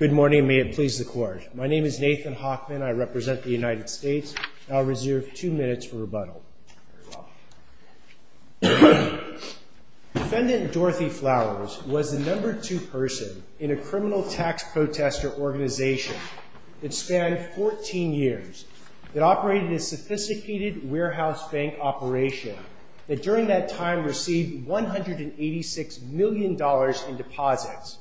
Good morning. May it please the court. My name is Nathan Hoffman. I represent the United States. I'll reserve two minutes for rebuttal. Defendant Dorothy Flowers was the number two person in a criminal tax protester organization that spanned 14 years, that operated a sophisticated warehouse bank operation, that during that time received $186 million in deposits.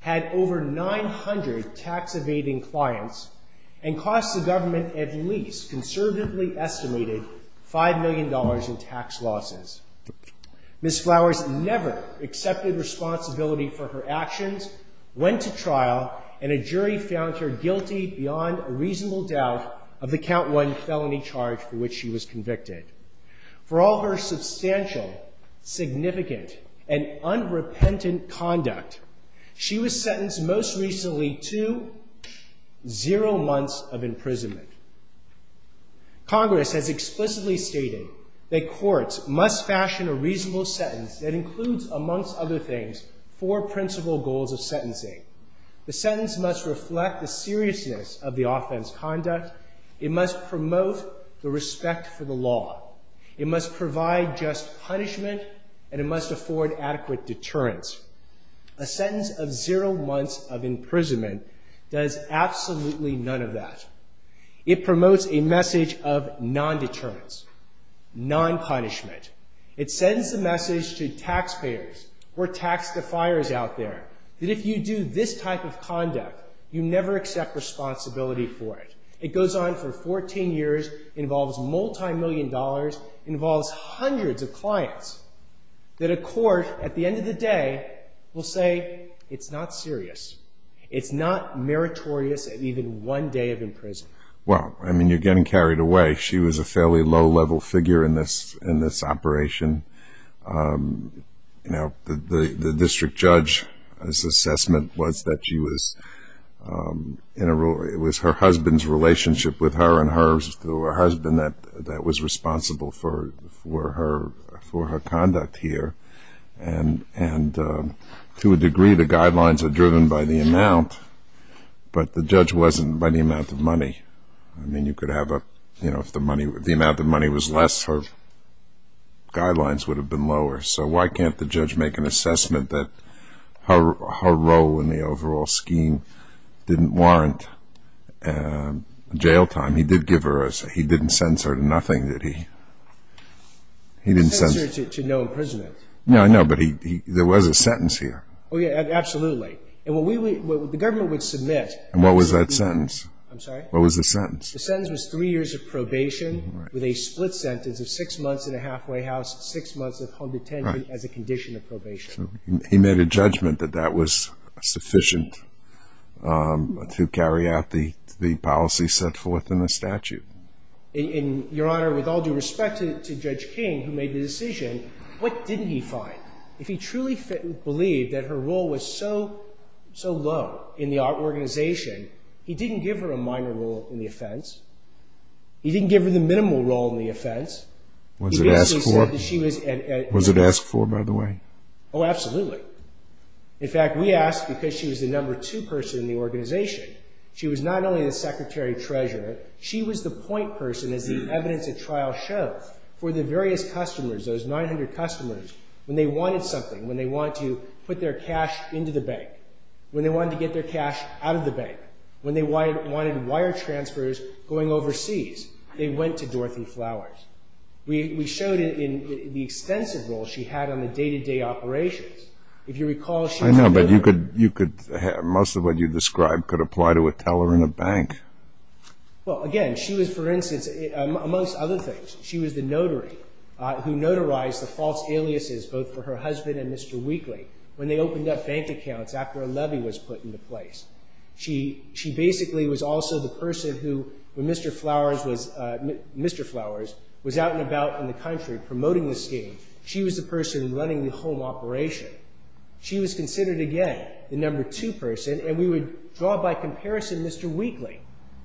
Had over 900 tax evading clients, and cost the government at least conservatively estimated $5 million in tax losses. Ms. Flowers never accepted responsibility for her actions, went to trial, and a jury found her guilty beyond a reasonable doubt of the count one felony charge for which she was convicted. For all her substantial, significant, and unrepentant conduct, she was sentenced most recently to zero months of imprisonment. Congress has explicitly stated that courts must fashion a reasonable sentence that includes, amongst other things, four principal goals of sentencing. The sentence must reflect the seriousness of the offense conduct. It must promote the respect for the law. It must provide just punishment, and it must afford adequate deterrence. A sentence of zero months of imprisonment does absolutely none of that. It promotes a message of non-deterrence, non-punishment. It sends a message to taxpayers, or tax defiers out there, that if you do this type of conduct, you never accept responsibility for it. It goes on for 14 years, involves multi-million dollars, involves hundreds of clients, that a court, at the end of the day, will say, it's not serious. It's not meritorious at even one day of imprisonment. Well, I mean, you're getting carried away. She was a fairly low-level figure in this operation. You know, the district judge's assessment was that she was, in a rule, it was her husband's relationship with her, and hers to her husband, that was responsible for her conduct here. And to a degree, the guidelines are driven by the amount, but the judge wasn't by the amount of money. I mean, you could have a, you know, if the amount of money was less, her guidelines would have been lower. So why can't the judge make an assessment that her role in the overall scheme didn't warrant jail time? He did give her a, he didn't censor her to nothing, did he? He didn't censor her to no imprisonment. No, I know, but he, there was a sentence here. Oh, yeah, absolutely. And what we would, the government would submit. And what was that sentence? I'm sorry? What was the sentence? The sentence was three years of probation with a split sentence of six months in a halfway house, six months of home detention as a condition of probation. He made a judgment that that was sufficient to carry out the policy set forth in the statute. And, Your Honor, with all due respect to Judge King, who made the decision, what didn't he find? If he truly believed that her role was so low in the organization, he didn't give her a minor role in the offense. He didn't give her the minimal role in the offense. Was it asked for? Was it asked for, by the way? Oh, absolutely. In fact, we asked because she was the number two person in the organization. She was not only the secretary treasurer. She was the point person, as the evidence at trial shows, for the various customers, those 900 customers, when they wanted something, when they wanted to put their cash into the bank, when they wanted to get their cash out of the bank, when they wanted wire transfers going overseas, they went to Dorothy Flowers. We showed in the extensive role she had on the day-to-day operations. I know, but most of what you described could apply to a teller in a bank. Well, again, she was, for instance, amongst other things, she was the notary who notarized the false aliases both for her husband and Mr. Weakley when they opened up bank accounts after a levy was put into place. She basically was also the person who, when Mr. Flowers was out and about in the country promoting the scheme, she was the person running the home operation. She was considered, again, the number two person, and we would draw by comparison Mr. Weakley.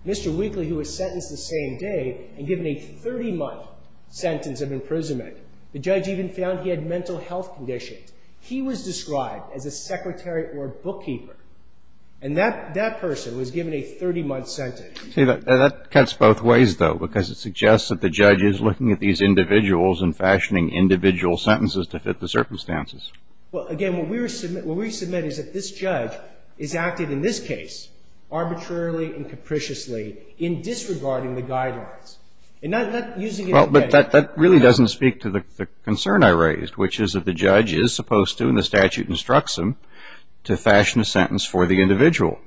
Mr. Weakley, who was sentenced the same day and given a 30-month sentence of imprisonment. The judge even found he had mental health conditions. He was described as a secretary or a bookkeeper, and that person was given a 30-month sentence. See, that cuts both ways, though, because it suggests that the judge is looking at these individuals and fashioning individual sentences to fit the circumstances. Well, again, what we submit is that this judge is acting, in this case, arbitrarily and capriciously in disregarding the guidelines, and not using it in any way. Well, but that really doesn't speak to the concern I raised, which is that the judge is supposed to, and the statute instructs him, to fashion a sentence for the individual.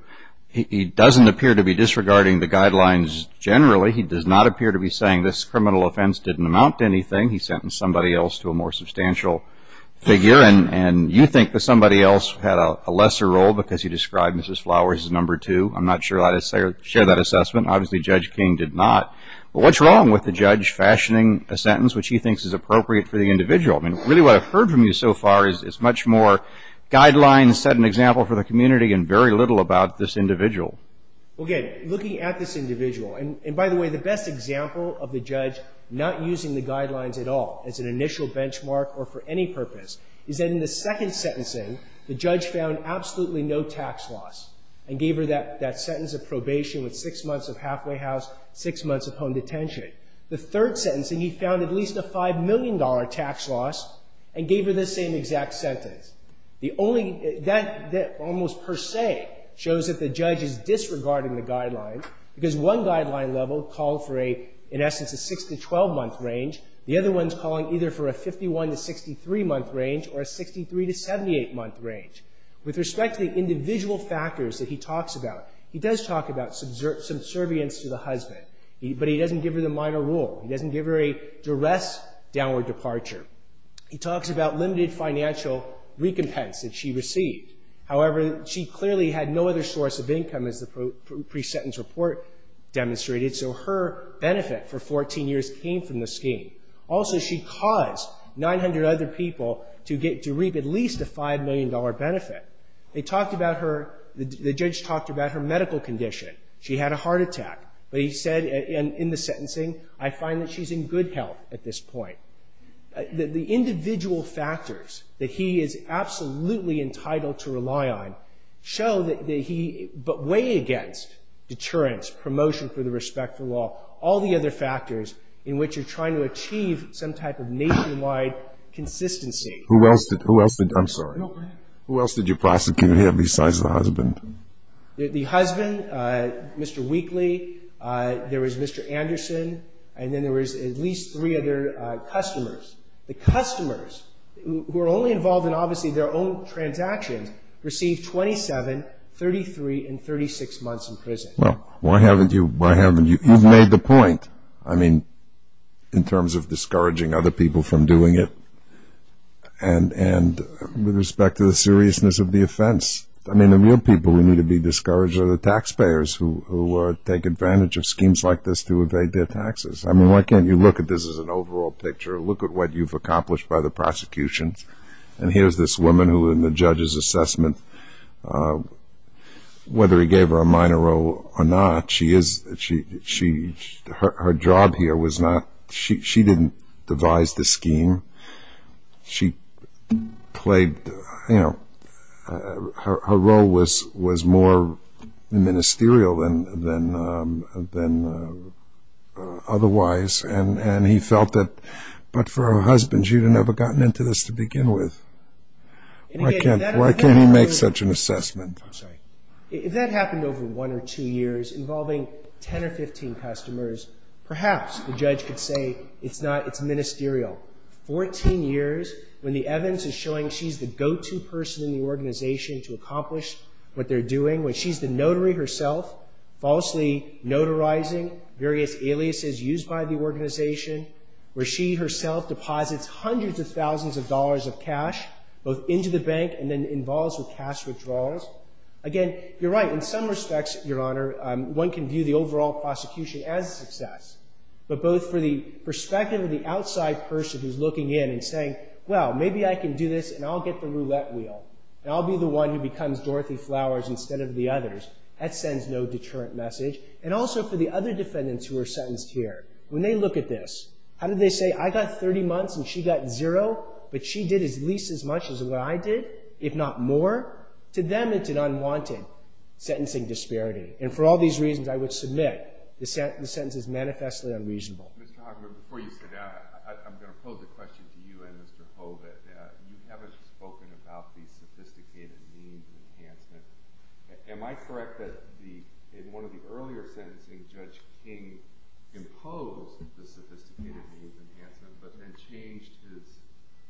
He doesn't appear to be disregarding the guidelines generally. He does not appear to be saying this criminal offense didn't amount to anything. He sentenced somebody else to a more substantial figure, and you think that somebody else had a lesser role because he described Mrs. Flowers as number two. I'm not sure I'd share that assessment. Obviously, Judge King did not. But what's wrong with the judge fashioning a sentence which he thinks is appropriate for the individual? I mean, really what I've heard from you so far is it's much more guidelines, set an example for the community, and very little about this individual. Well, again, looking at this individual, and by the way, the best example of the judge not using the guidelines at all as an initial benchmark or for any purpose is that in the second sentencing, the judge found absolutely no tax loss and gave her that sentence of probation with six months of halfway house, six months of home detention. The third sentencing, he found at least a $5 million tax loss and gave her the same exact sentence. That almost per se shows that the judge is disregarding the guidelines because one guideline level called for, in essence, a six to 12-month range. The other one's calling either for a 51 to 63-month range or a 63 to 78-month range. With respect to the individual factors that he talks about, he does talk about subservience to the husband, but he doesn't give her the minor rule. He doesn't give her a duress downward departure. He talks about limited financial recompense that she received. However, she clearly had no other source of income as the pre-sentence report demonstrated, so her benefit for 14 years came from the scheme. Also, she caused 900 other people to reap at least a $5 million benefit. They talked about her, the judge talked about her medical condition. She had a heart attack, but he said in the sentencing, I find that she's in good health at this point. The individual factors that he is absolutely entitled to rely on show that he, but weigh against deterrence, promotion for the respectful law, all the other factors in which you're trying to achieve some type of nationwide consistency. Who else did you prosecute here besides the husband? The husband, Mr. Weakley, there was Mr. Anderson, and then there was at least three other customers. The customers, who were only involved in obviously their own transactions, received 27, 33, and 36 months in prison. Well, why haven't you? You've made the point, I mean, in terms of discouraging other people from doing it, and with respect to the seriousness of the offense. I mean, the real people who need to be discouraged are the taxpayers who take advantage of schemes like this to evade their taxes. I mean, why can't you look at this as an overall picture, look at what you've accomplished by the prosecution? And here's this woman who, in the judge's assessment, whether he gave her a minor role or not, her job here was not, she didn't devise the scheme. She played, you know, her role was more ministerial than otherwise, and he felt that, but for her husband, she would have never gotten into this to begin with. Why can't he make such an assessment? If that happened over one or two years involving 10 or 15 customers, perhaps the judge could say it's not, it's ministerial. Fourteen years when the evidence is showing she's the go-to person in the organization to accomplish what they're doing, when she's the notary herself, falsely notarizing various aliases used by the organization, where she herself deposits hundreds of thousands of dollars of cash, both into the bank and then involves with cash withdrawals. Again, you're right, in some respects, Your Honor, one can view the overall prosecution as a success, but both for the perspective of the outside person who's looking in and saying, well, maybe I can do this, and I'll get the roulette wheel, and I'll be the one who becomes Dorothy Flowers instead of the others. That sends no deterrent message, and also for the other defendants who are sentenced here. When they look at this, how do they say, I got 30 months and she got zero, but she did at least as much as what I did, if not more? To them, it's an unwanted sentencing disparity, and for all these reasons, I would submit the sentence is manifestly unreasonable. Mr. Hogman, before you sit down, I'm going to pose a question to you and Mr. Hobit. You haven't spoken about the sophisticated means enhancement. Am I correct that in one of the earlier sentencing, Judge King imposed the sophisticated means enhancement but then changed his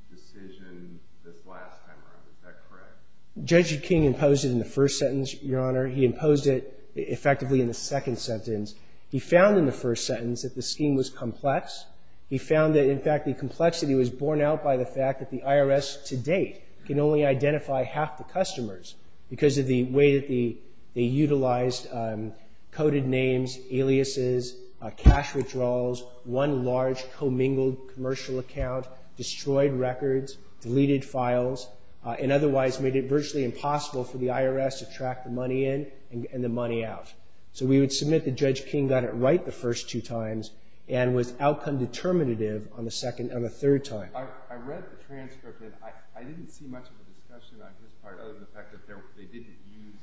decision this last time around? Is that correct? Judge King imposed it in the first sentence, Your Honor. He imposed it effectively in the second sentence. He found in the first sentence that the scheme was complex. He found that, in fact, the complexity was borne out by the fact that the IRS to date can only identify half the customers because of the way that they utilized coded names, aliases, cash withdrawals, one large commingled commercial account, destroyed records, deleted files, and otherwise made it virtually impossible for the IRS to track the money in and the money out. So we would submit that Judge King got it right the first two times and was outcome determinative on the third time. I read the transcript, and I didn't see much of a discussion on his part other than the fact that they didn't use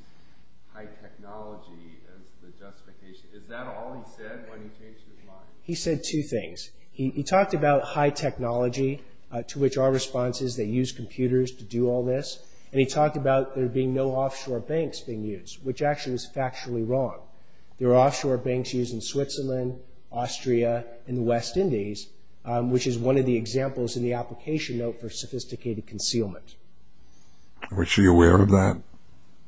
high technology as the justification. Is that all he said when he changed his mind? He said two things. He talked about high technology, to which our response is they use computers to do all this, and he talked about there being no offshore banks being used, which actually is factually wrong. There are offshore banks used in Switzerland, Austria, and the West Indies, which is one of the examples in the application note for sophisticated concealment. Was she aware of that?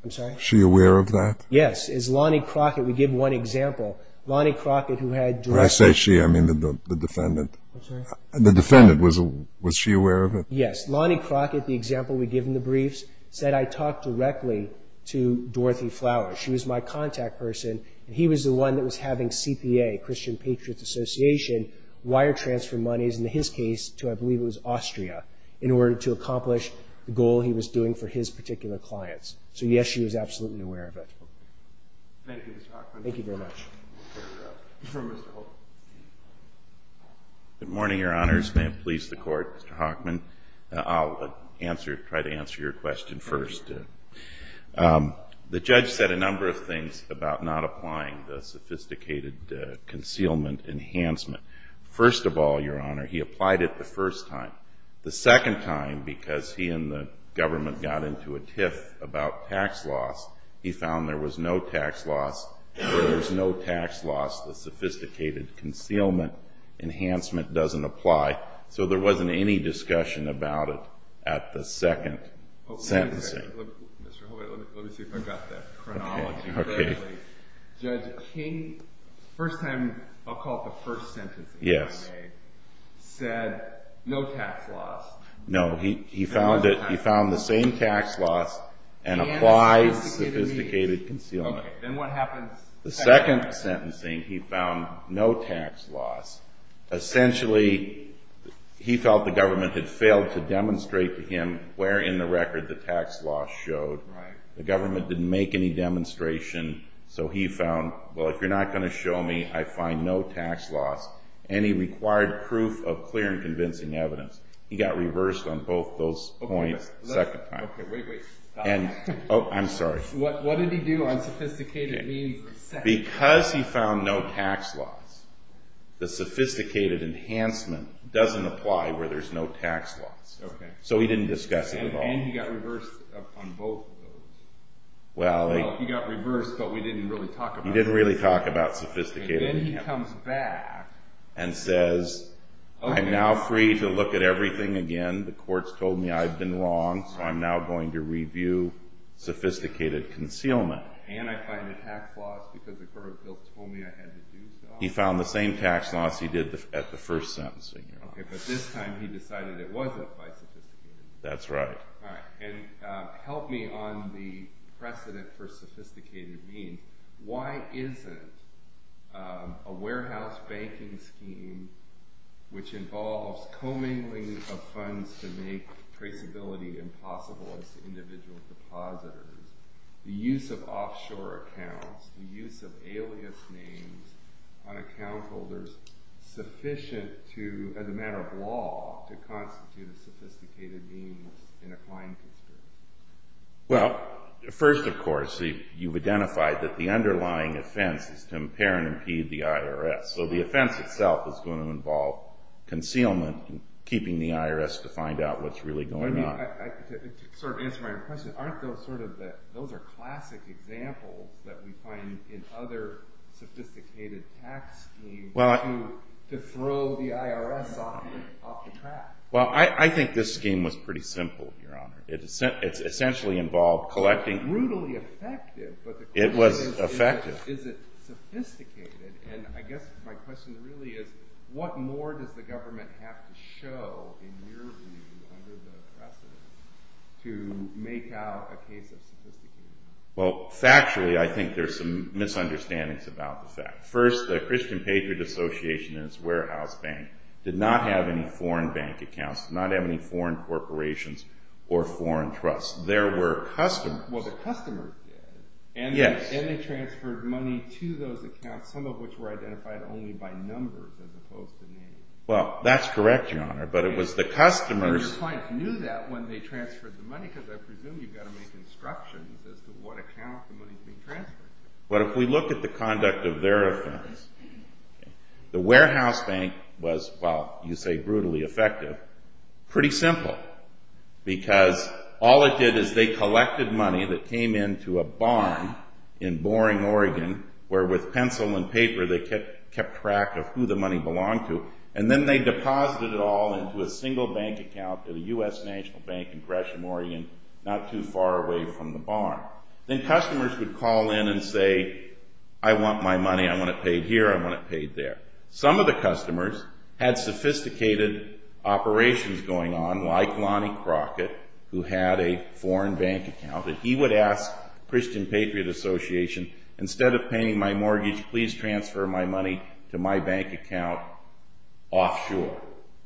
I'm sorry? Was she aware of that? Yes. As Lonnie Crockett would give one example, Lonnie Crockett, who had direct... When I say she, I mean the defendant. I'm sorry? The defendant. Was she aware of it? Yes. Lonnie Crockett, the example we give in the briefs, said I talked directly to Dorothy Flower. She was my contact person, and he was the one that was having CPA, Christian Patriots Association, wire transfer monies, in his case, to, I believe it was Austria, in order to accomplish the goal he was doing for his particular clients. So, yes, she was absolutely aware of it. Thank you, Mr. Hochman. Thank you very much. Mr. Hochman. Good morning, Your Honors. May it please the Court, Mr. Hochman. I'll try to answer your question first. The judge said a number of things about not applying the sophisticated concealment enhancement. First of all, Your Honor, he applied it the first time. The second time, because he and the government got into a tiff about tax loss, he found there was no tax loss. There was no tax loss. The sophisticated concealment enhancement doesn't apply. So there wasn't any discussion about it at the second sentencing. Mr. Hochman, let me see if I've got that chronology clearly. Judge King, first time, I'll call it the first sentencing I made, said no tax loss. No, he found the same tax loss and applied sophisticated concealment. Okay, then what happens? The second sentencing, he found no tax loss. Essentially, he felt the government had failed to demonstrate to him where in the record the tax loss showed. Right. The government didn't make any demonstration, so he found, well, if you're not going to show me, I find no tax loss, and he required proof of clear and convincing evidence. He got reversed on both those points the second time. Okay, wait, wait. Oh, I'm sorry. What did he do on sophisticated means the second time? Because he found no tax loss, the sophisticated enhancement doesn't apply where there's no tax loss. Okay. So he didn't discuss it at all. And he got reversed on both of those. Well, he got reversed, but we didn't really talk about it. He didn't really talk about sophisticated enhancement. And then he comes back and says, I'm now free to look at everything again. The court's told me I've been wrong, so I'm now going to review sophisticated concealment. And I find a tax loss because the court of guilt told me I had to do so. He found the same tax loss he did at the first sentencing. Okay, but this time he decided it wasn't by sophisticated means. That's right. All right. And help me on the precedent for sophisticated means. Why isn't a warehouse banking scheme, which involves commingling of funds to make traceability impossible as to individual depositors, the use of offshore accounts, the use of alias names on account holders sufficient to, as a matter of law, to constitute a sophisticated means in a client dispute? Well, first, of course, you've identified that the underlying offense is to impair and impede the IRS. So the offense itself is going to involve concealment and keeping the IRS to find out what's really going on. To sort of answer my question, aren't those sort of the classic examples that we find in other sophisticated tax schemes to throw the IRS off the track? Well, I think this scheme was pretty simple, Your Honor. It essentially involved collecting. Brutally effective. It was effective. Is it sophisticated? And I guess my question really is, what more does the government have to show, in your view, under the precedent to make out a case of sophistication? Well, factually, I think there's some misunderstandings about the fact. First, the Christian Patriot Association and its warehouse bank did not have any foreign bank accounts, did not have any foreign corporations or foreign trusts. There were customers. Well, the customers did. Yes. And they transferred money to those accounts, some of which were identified only by numbers as opposed to names. Well, that's correct, Your Honor. But it was the customers. But your client knew that when they transferred the money because I presume you've got to make instructions as to what account the money's being transferred to. But if we look at the conduct of their offense, the warehouse bank was, well, you say brutally effective. Pretty simple. Because all it did is they collected money that came into a barn in Boring, Oregon, where with pencil and paper they kept track of who the money belonged to, and then they deposited it all into a single bank account at a U.S. national bank in Gresham, Oregon, not too far away from the barn. Then customers would call in and say, I want my money, I want it paid here, I want it paid there. Some of the customers had sophisticated operations going on, like Lonnie Crockett, who had a foreign bank account, and he would ask Christian Patriot Association, instead of paying my mortgage, please transfer my money to my bank account offshore.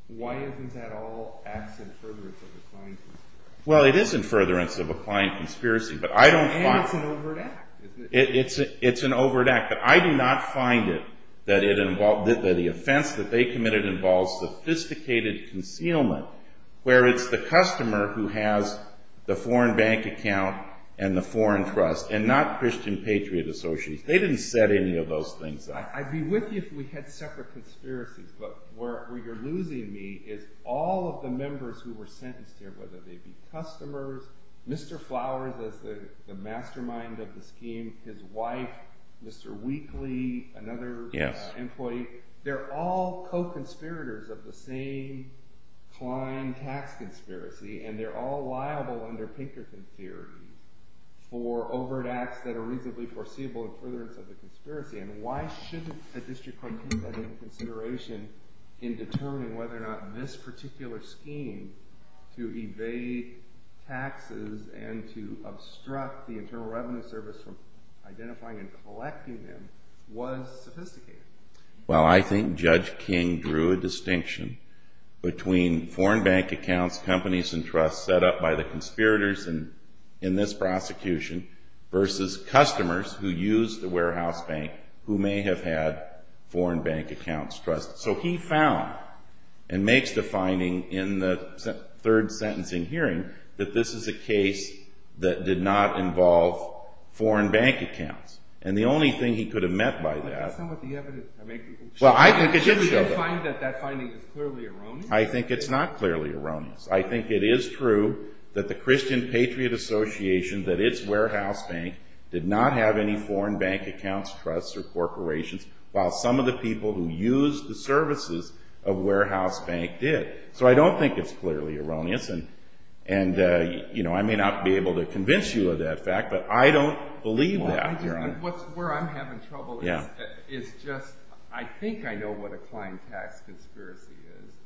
Why isn't that all acts of furtherance of a client conspiracy? Well, it is in furtherance of a client conspiracy, but I don't find it. And it's an overt act, isn't it? It's an overt act, but I do not find it that the offense that they committed involves sophisticated concealment, where it's the customer who has the foreign bank account and the foreign trust, and not Christian Patriot Association. They didn't set any of those things up. I'd be with you if we had separate conspiracies, but where you're losing me is all of the members who were sentenced here, whether they be customers, Mr. Flowers as the mastermind of the scheme, his wife, Mr. Weakley, another employee, they're all co-conspirators of the same client tax conspiracy, and they're all liable under Pinkerton theory for overt acts that are reasonably foreseeable in furtherance of the conspiracy. And why shouldn't the district court take that into consideration in determining whether or not this particular scheme to evade taxes and to obstruct the Internal Revenue Service from identifying and collecting them was sophisticated? Well, I think Judge King drew a distinction between foreign bank accounts, companies, and trusts set up by the conspirators in this prosecution versus customers who used the warehouse bank who may have had foreign bank accounts, trusts. So he found and makes the finding in the third sentencing hearing that this is a case that did not involve foreign bank accounts. And the only thing he could have meant by that Well, I think it did show that. I think it's not clearly erroneous. I think it is true that the Christian Patriot Association, that its warehouse bank did not have any foreign bank accounts, trusts, or corporations, while some of the people who used the services of warehouse bank did. So I don't think it's clearly erroneous, and I may not be able to convince you of that fact, but I don't believe that. Where I'm having trouble is just, I think I know what a client tax conspiracy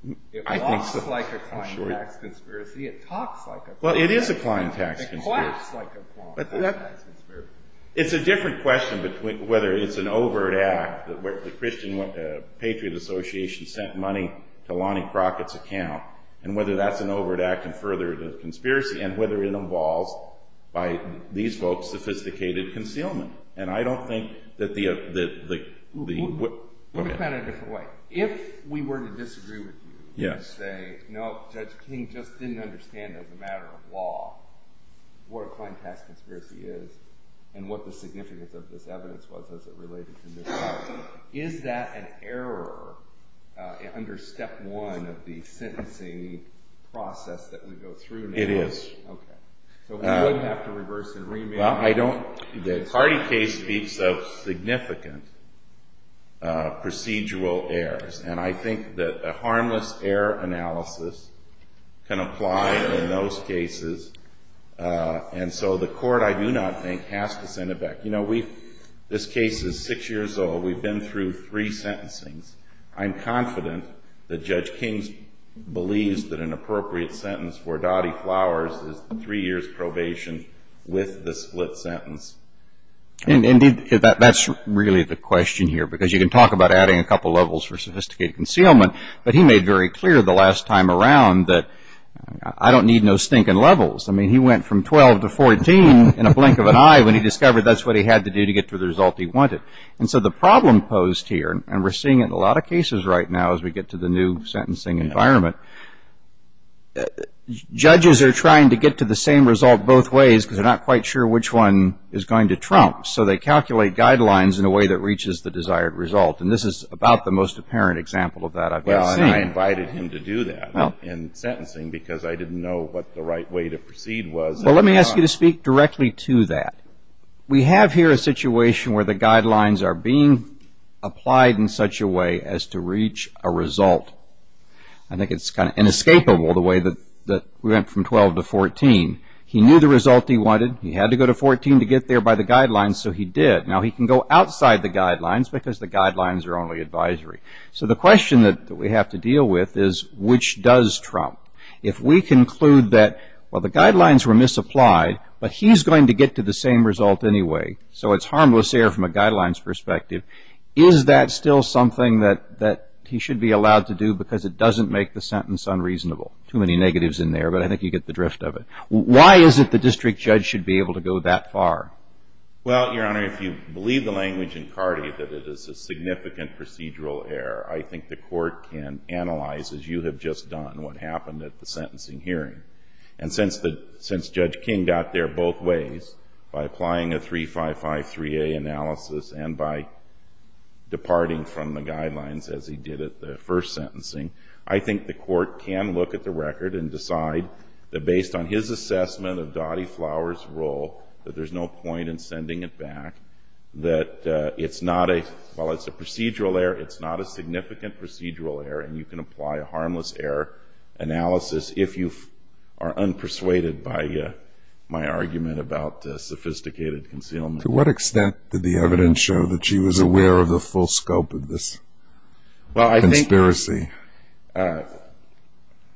is. It walks like a client tax conspiracy. It talks like a client tax conspiracy. Well, it is a client tax conspiracy. It quacks like a client tax conspiracy. It's a different question whether it's an overt act that the Christian Patriot Association sent money to Lonnie Crockett's account, and whether that's an overt act and further the conspiracy, and whether it involves, by these folks, sophisticated concealment. And I don't think that the... Let me put it a different way. If we were to disagree with you and say, no, Judge King just didn't understand as a matter of law what a client tax conspiracy is and what the significance of this evidence was as it related to this case, is that an error under step one of the sentencing process that we go through now? It is. Okay. So we would have to reverse and remand... Well, I don't... The Hardy case speaks of significant procedural errors, and I think that a harmless error analysis can apply in those cases. And so the court, I do not think, has to send it back. You know, this case is six years old. We've been through three sentencings. I'm confident that Judge King believes that an appropriate sentence for Dottie Flowers is three years' probation with the split sentence. Indeed, that's really the question here, because you can talk about adding a couple levels for sophisticated concealment, but he made very clear the last time around that I don't need no stinking levels. I mean, he went from 12 to 14 in a blink of an eye when he discovered that's what he had to do to get to the result he wanted. And so the problem posed here, and we're seeing it in a lot of cases right now as we get to the new sentencing environment, judges are trying to get to the same result both ways because they're not quite sure which one is going to trump. So they calculate guidelines in a way that reaches the desired result, and this is about the most apparent example of that I've ever seen. Well, and I invited him to do that in sentencing because I didn't know what the right way to proceed was. Well, let me ask you to speak directly to that. We have here a situation where the guidelines are being applied in such a way as to reach a result. I think it's kind of inescapable the way that we went from 12 to 14. He knew the result he wanted. He had to go to 14 to get there by the guidelines, so he did. Now, he can go outside the guidelines because the guidelines are only advisory. So the question that we have to deal with is, which does trump? If we conclude that, well, the guidelines were misapplied, but he's going to get to the same result anyway, so it's harmless error from a guidelines perspective, is that still something that he should be allowed to do because it doesn't make the sentence unreasonable? Too many negatives in there, but I think you get the drift of it. Why is it the district judge should be able to go that far? Well, Your Honor, if you believe the language in Cardi that it is a significant procedural error, I think the Court can analyze, as you have just done, what happened at the sentencing hearing. And since Judge King got there both ways, by applying a 355-3A analysis and by departing from the guidelines as he did at the first sentencing, I think the Court can look at the record and decide that based on his assessment of Dottie Flowers' role that there's no point in sending it back, that it's not a, while it's a procedural error, it's not a significant procedural error, and you can apply a harmless error analysis if you are unpersuaded by my argument about sophisticated concealment. To what extent did the evidence show that she was aware of the full scope of this conspiracy? Well,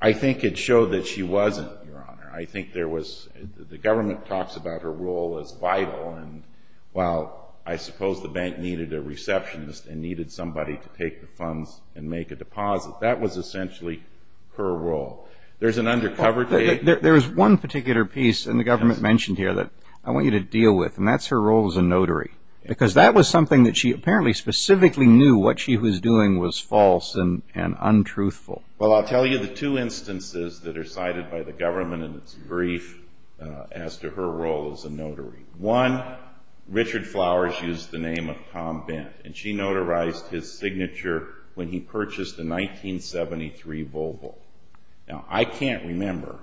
I think it showed that she wasn't, Your Honor. I think there was, the government talks about her role as vital, and while I suppose the bank needed a receptionist and needed somebody to take the funds and make a deposit, that was essentially her role. There's an undercover... There's one particular piece, and the government mentioned here, that I want you to deal with, and that's her role as a notary, because that was something that she apparently specifically knew what she was doing was false and untruthful. Well, I'll tell you the two instances that are cited by the government in its brief as to her role as a notary. One, Richard Flowers used the name of Tom Bent, and she notarized his signature when he purchased the 1973 Volvo. Now, I can't remember,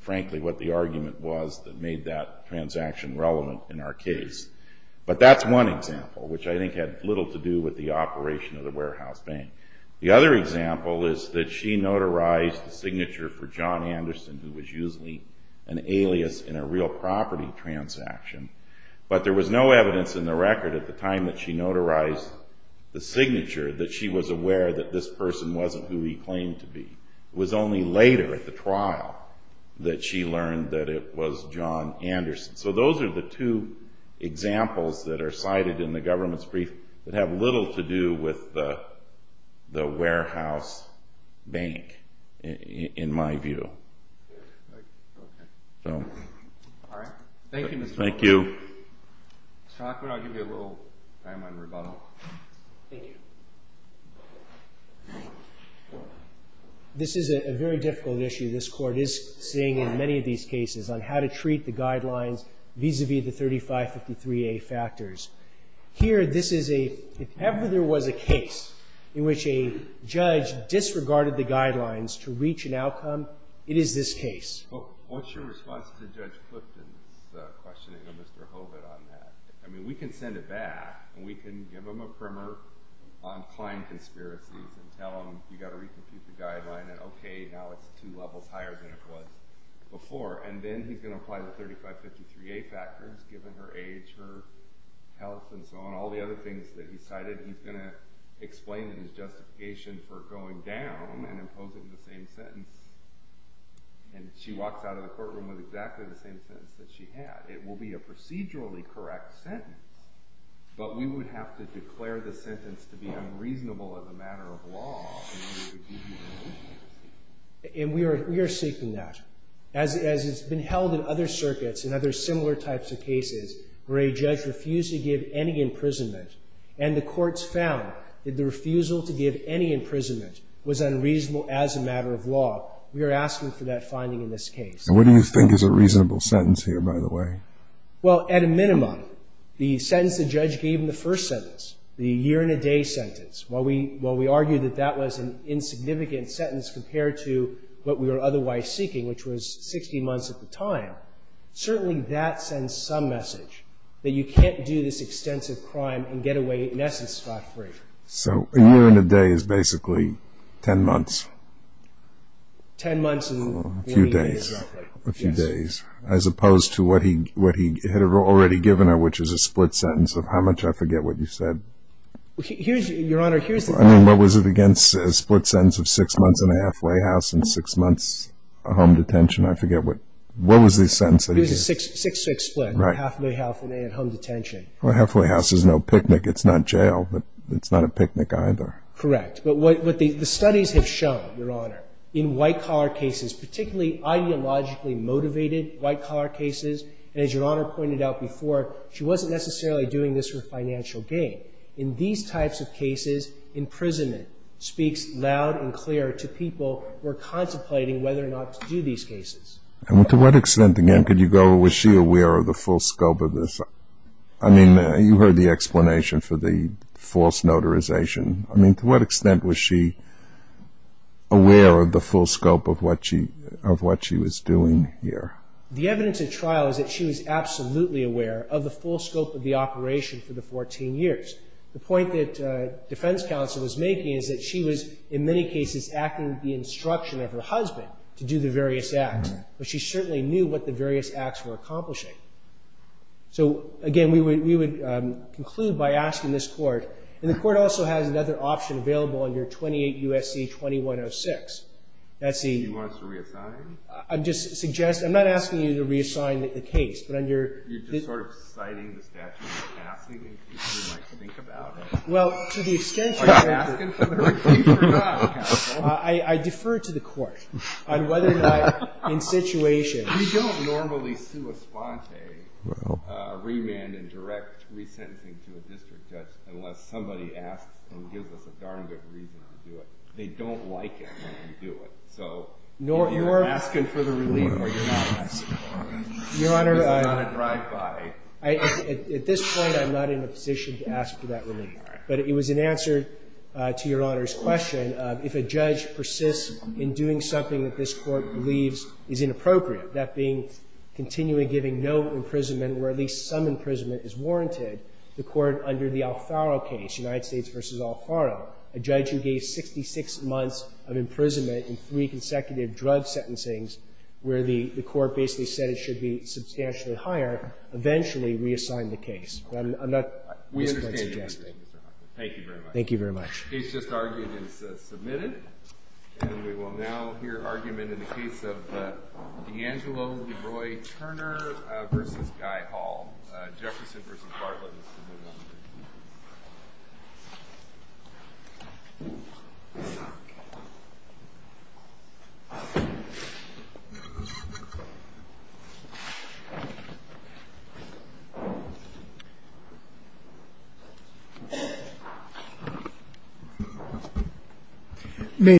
frankly, what the argument was that made that transaction relevant in our case, but that's one example, which I think had little to do with the operation of the warehouse bank. The other example is that she notarized the signature for John Anderson, who was usually an alias in a real property transaction, but there was no evidence in the record at the time that she notarized the signature that she was aware that this person wasn't who he claimed to be. It was only later at the trial that she learned that it was John Anderson. So those are the two examples that are cited in the government's brief that have little to do with the warehouse bank, in my view. All right. Thank you, Mr. Hoffman. Thank you. Mr. Hoffman, I'll give you a little time on rebuttal. Thank you. This is a very difficult issue. This Court is seeing in many of these cases on how to treat the guidelines vis-à-vis the 3553A factors. Here, this is a... If ever there was a case in which a judge disregarded the guidelines to reach an outcome, it is this case. What's your response to Judge Clifton's questioning of Mr. Hovind on that? I mean, we can send it back, and we can give him a primer on client conspiracies and tell him, you've got to recompute the guideline, and, okay, now it's two levels higher than it was before. And then he's going to apply the 3553A factors, given her age, her health, and so on, all the other things that he cited. He's going to explain his justification for going down and imposing the same sentence. And she walks out of the courtroom with exactly the same sentence that she had. It will be a procedurally correct sentence, but we would have to declare the sentence to be unreasonable as a matter of law... And we are seeking that. As it's been held in other circuits and other similar types of cases where a judge refused to give any imprisonment, and the courts found that the refusal to give any imprisonment was unreasonable as a matter of law, we are asking for that finding in this case. And what do you think is a reasonable sentence here, by the way? Well, at a minimum, the sentence the judge gave in the first sentence, the year-and-a-day sentence, while we argue that that was an insignificant sentence compared to what we were otherwise seeking, which was 60 months at the time, certainly that sends some message that you can't do this extensive crime and get away, in essence, spot-free. So a year-and-a-day is basically 10 months? Ten months and... A few days. A few days, as opposed to what he had already given her, which is a split sentence of how much? I forget what you said. Your Honor, here's the thing... I mean, what was it against? A split sentence of six months in a halfway house and six months in home detention? I forget what... What was the sentence? It was a 6-6 split. Halfway house and home detention. Well, halfway house is no picnic. It's not jail, but it's not a picnic either. Correct. But what the studies have shown, Your Honor, in white-collar cases, particularly ideologically motivated white-collar cases, and as Your Honor pointed out before, she wasn't necessarily doing this for financial gain. In these types of cases, imprisonment speaks loud and clear to people who are contemplating whether or not to do these cases. And to what extent, again, could you go, was she aware of the full scope of this? I mean, you heard the explanation for the false notarization. I mean, to what extent was she aware of the full scope of what she was doing here? The evidence at trial is that she was absolutely aware of the full scope of the operation for the 14 years. The point that defense counsel was making is that she was, in many cases, acting at the instruction of her husband to do the various acts, but she certainly knew what the various acts were accomplishing. So, again, we would conclude by asking this court, and the court also has another option available under 28 U.S.C. 2106. That's the... She wants to reassign? I'm just suggesting... I'm not asking you to reassign the case, but under... You're just sort of citing the statute of passing in case we might think about it. Well, to the extent that... Are you asking for her case or not, counsel? I defer to the court on whether or not, in situation... We don't normally sue a sponte remand and direct resentencing to a district judge unless somebody asks and gives us a darn good reason to do it. They don't like it when we do it, so if you're asking for the relief or you're not asking for it, it's a lot of drive-by. At this point, I'm not in a position to ask for that relief, but it was in answer to Your Honor's question of if a judge persists in doing something that this Court believes is inappropriate, that being continually giving no imprisonment where at least some imprisonment is warranted, the Court under the Alfaro case, United States v. Alfaro, a judge who gave 66 months of imprisonment in three consecutive drug sentencings where the Court basically said it should be substantially higher, eventually reassigned the case. I'm not... We understand your position, Mr. Hoffman. Thank you very much. Thank you very much. The case just argued is submitted, and we will now hear argument in the case of D'Angelo v. Roy Turner v. Guy Hall, Jefferson v. Bartlett. Meeting adjourned.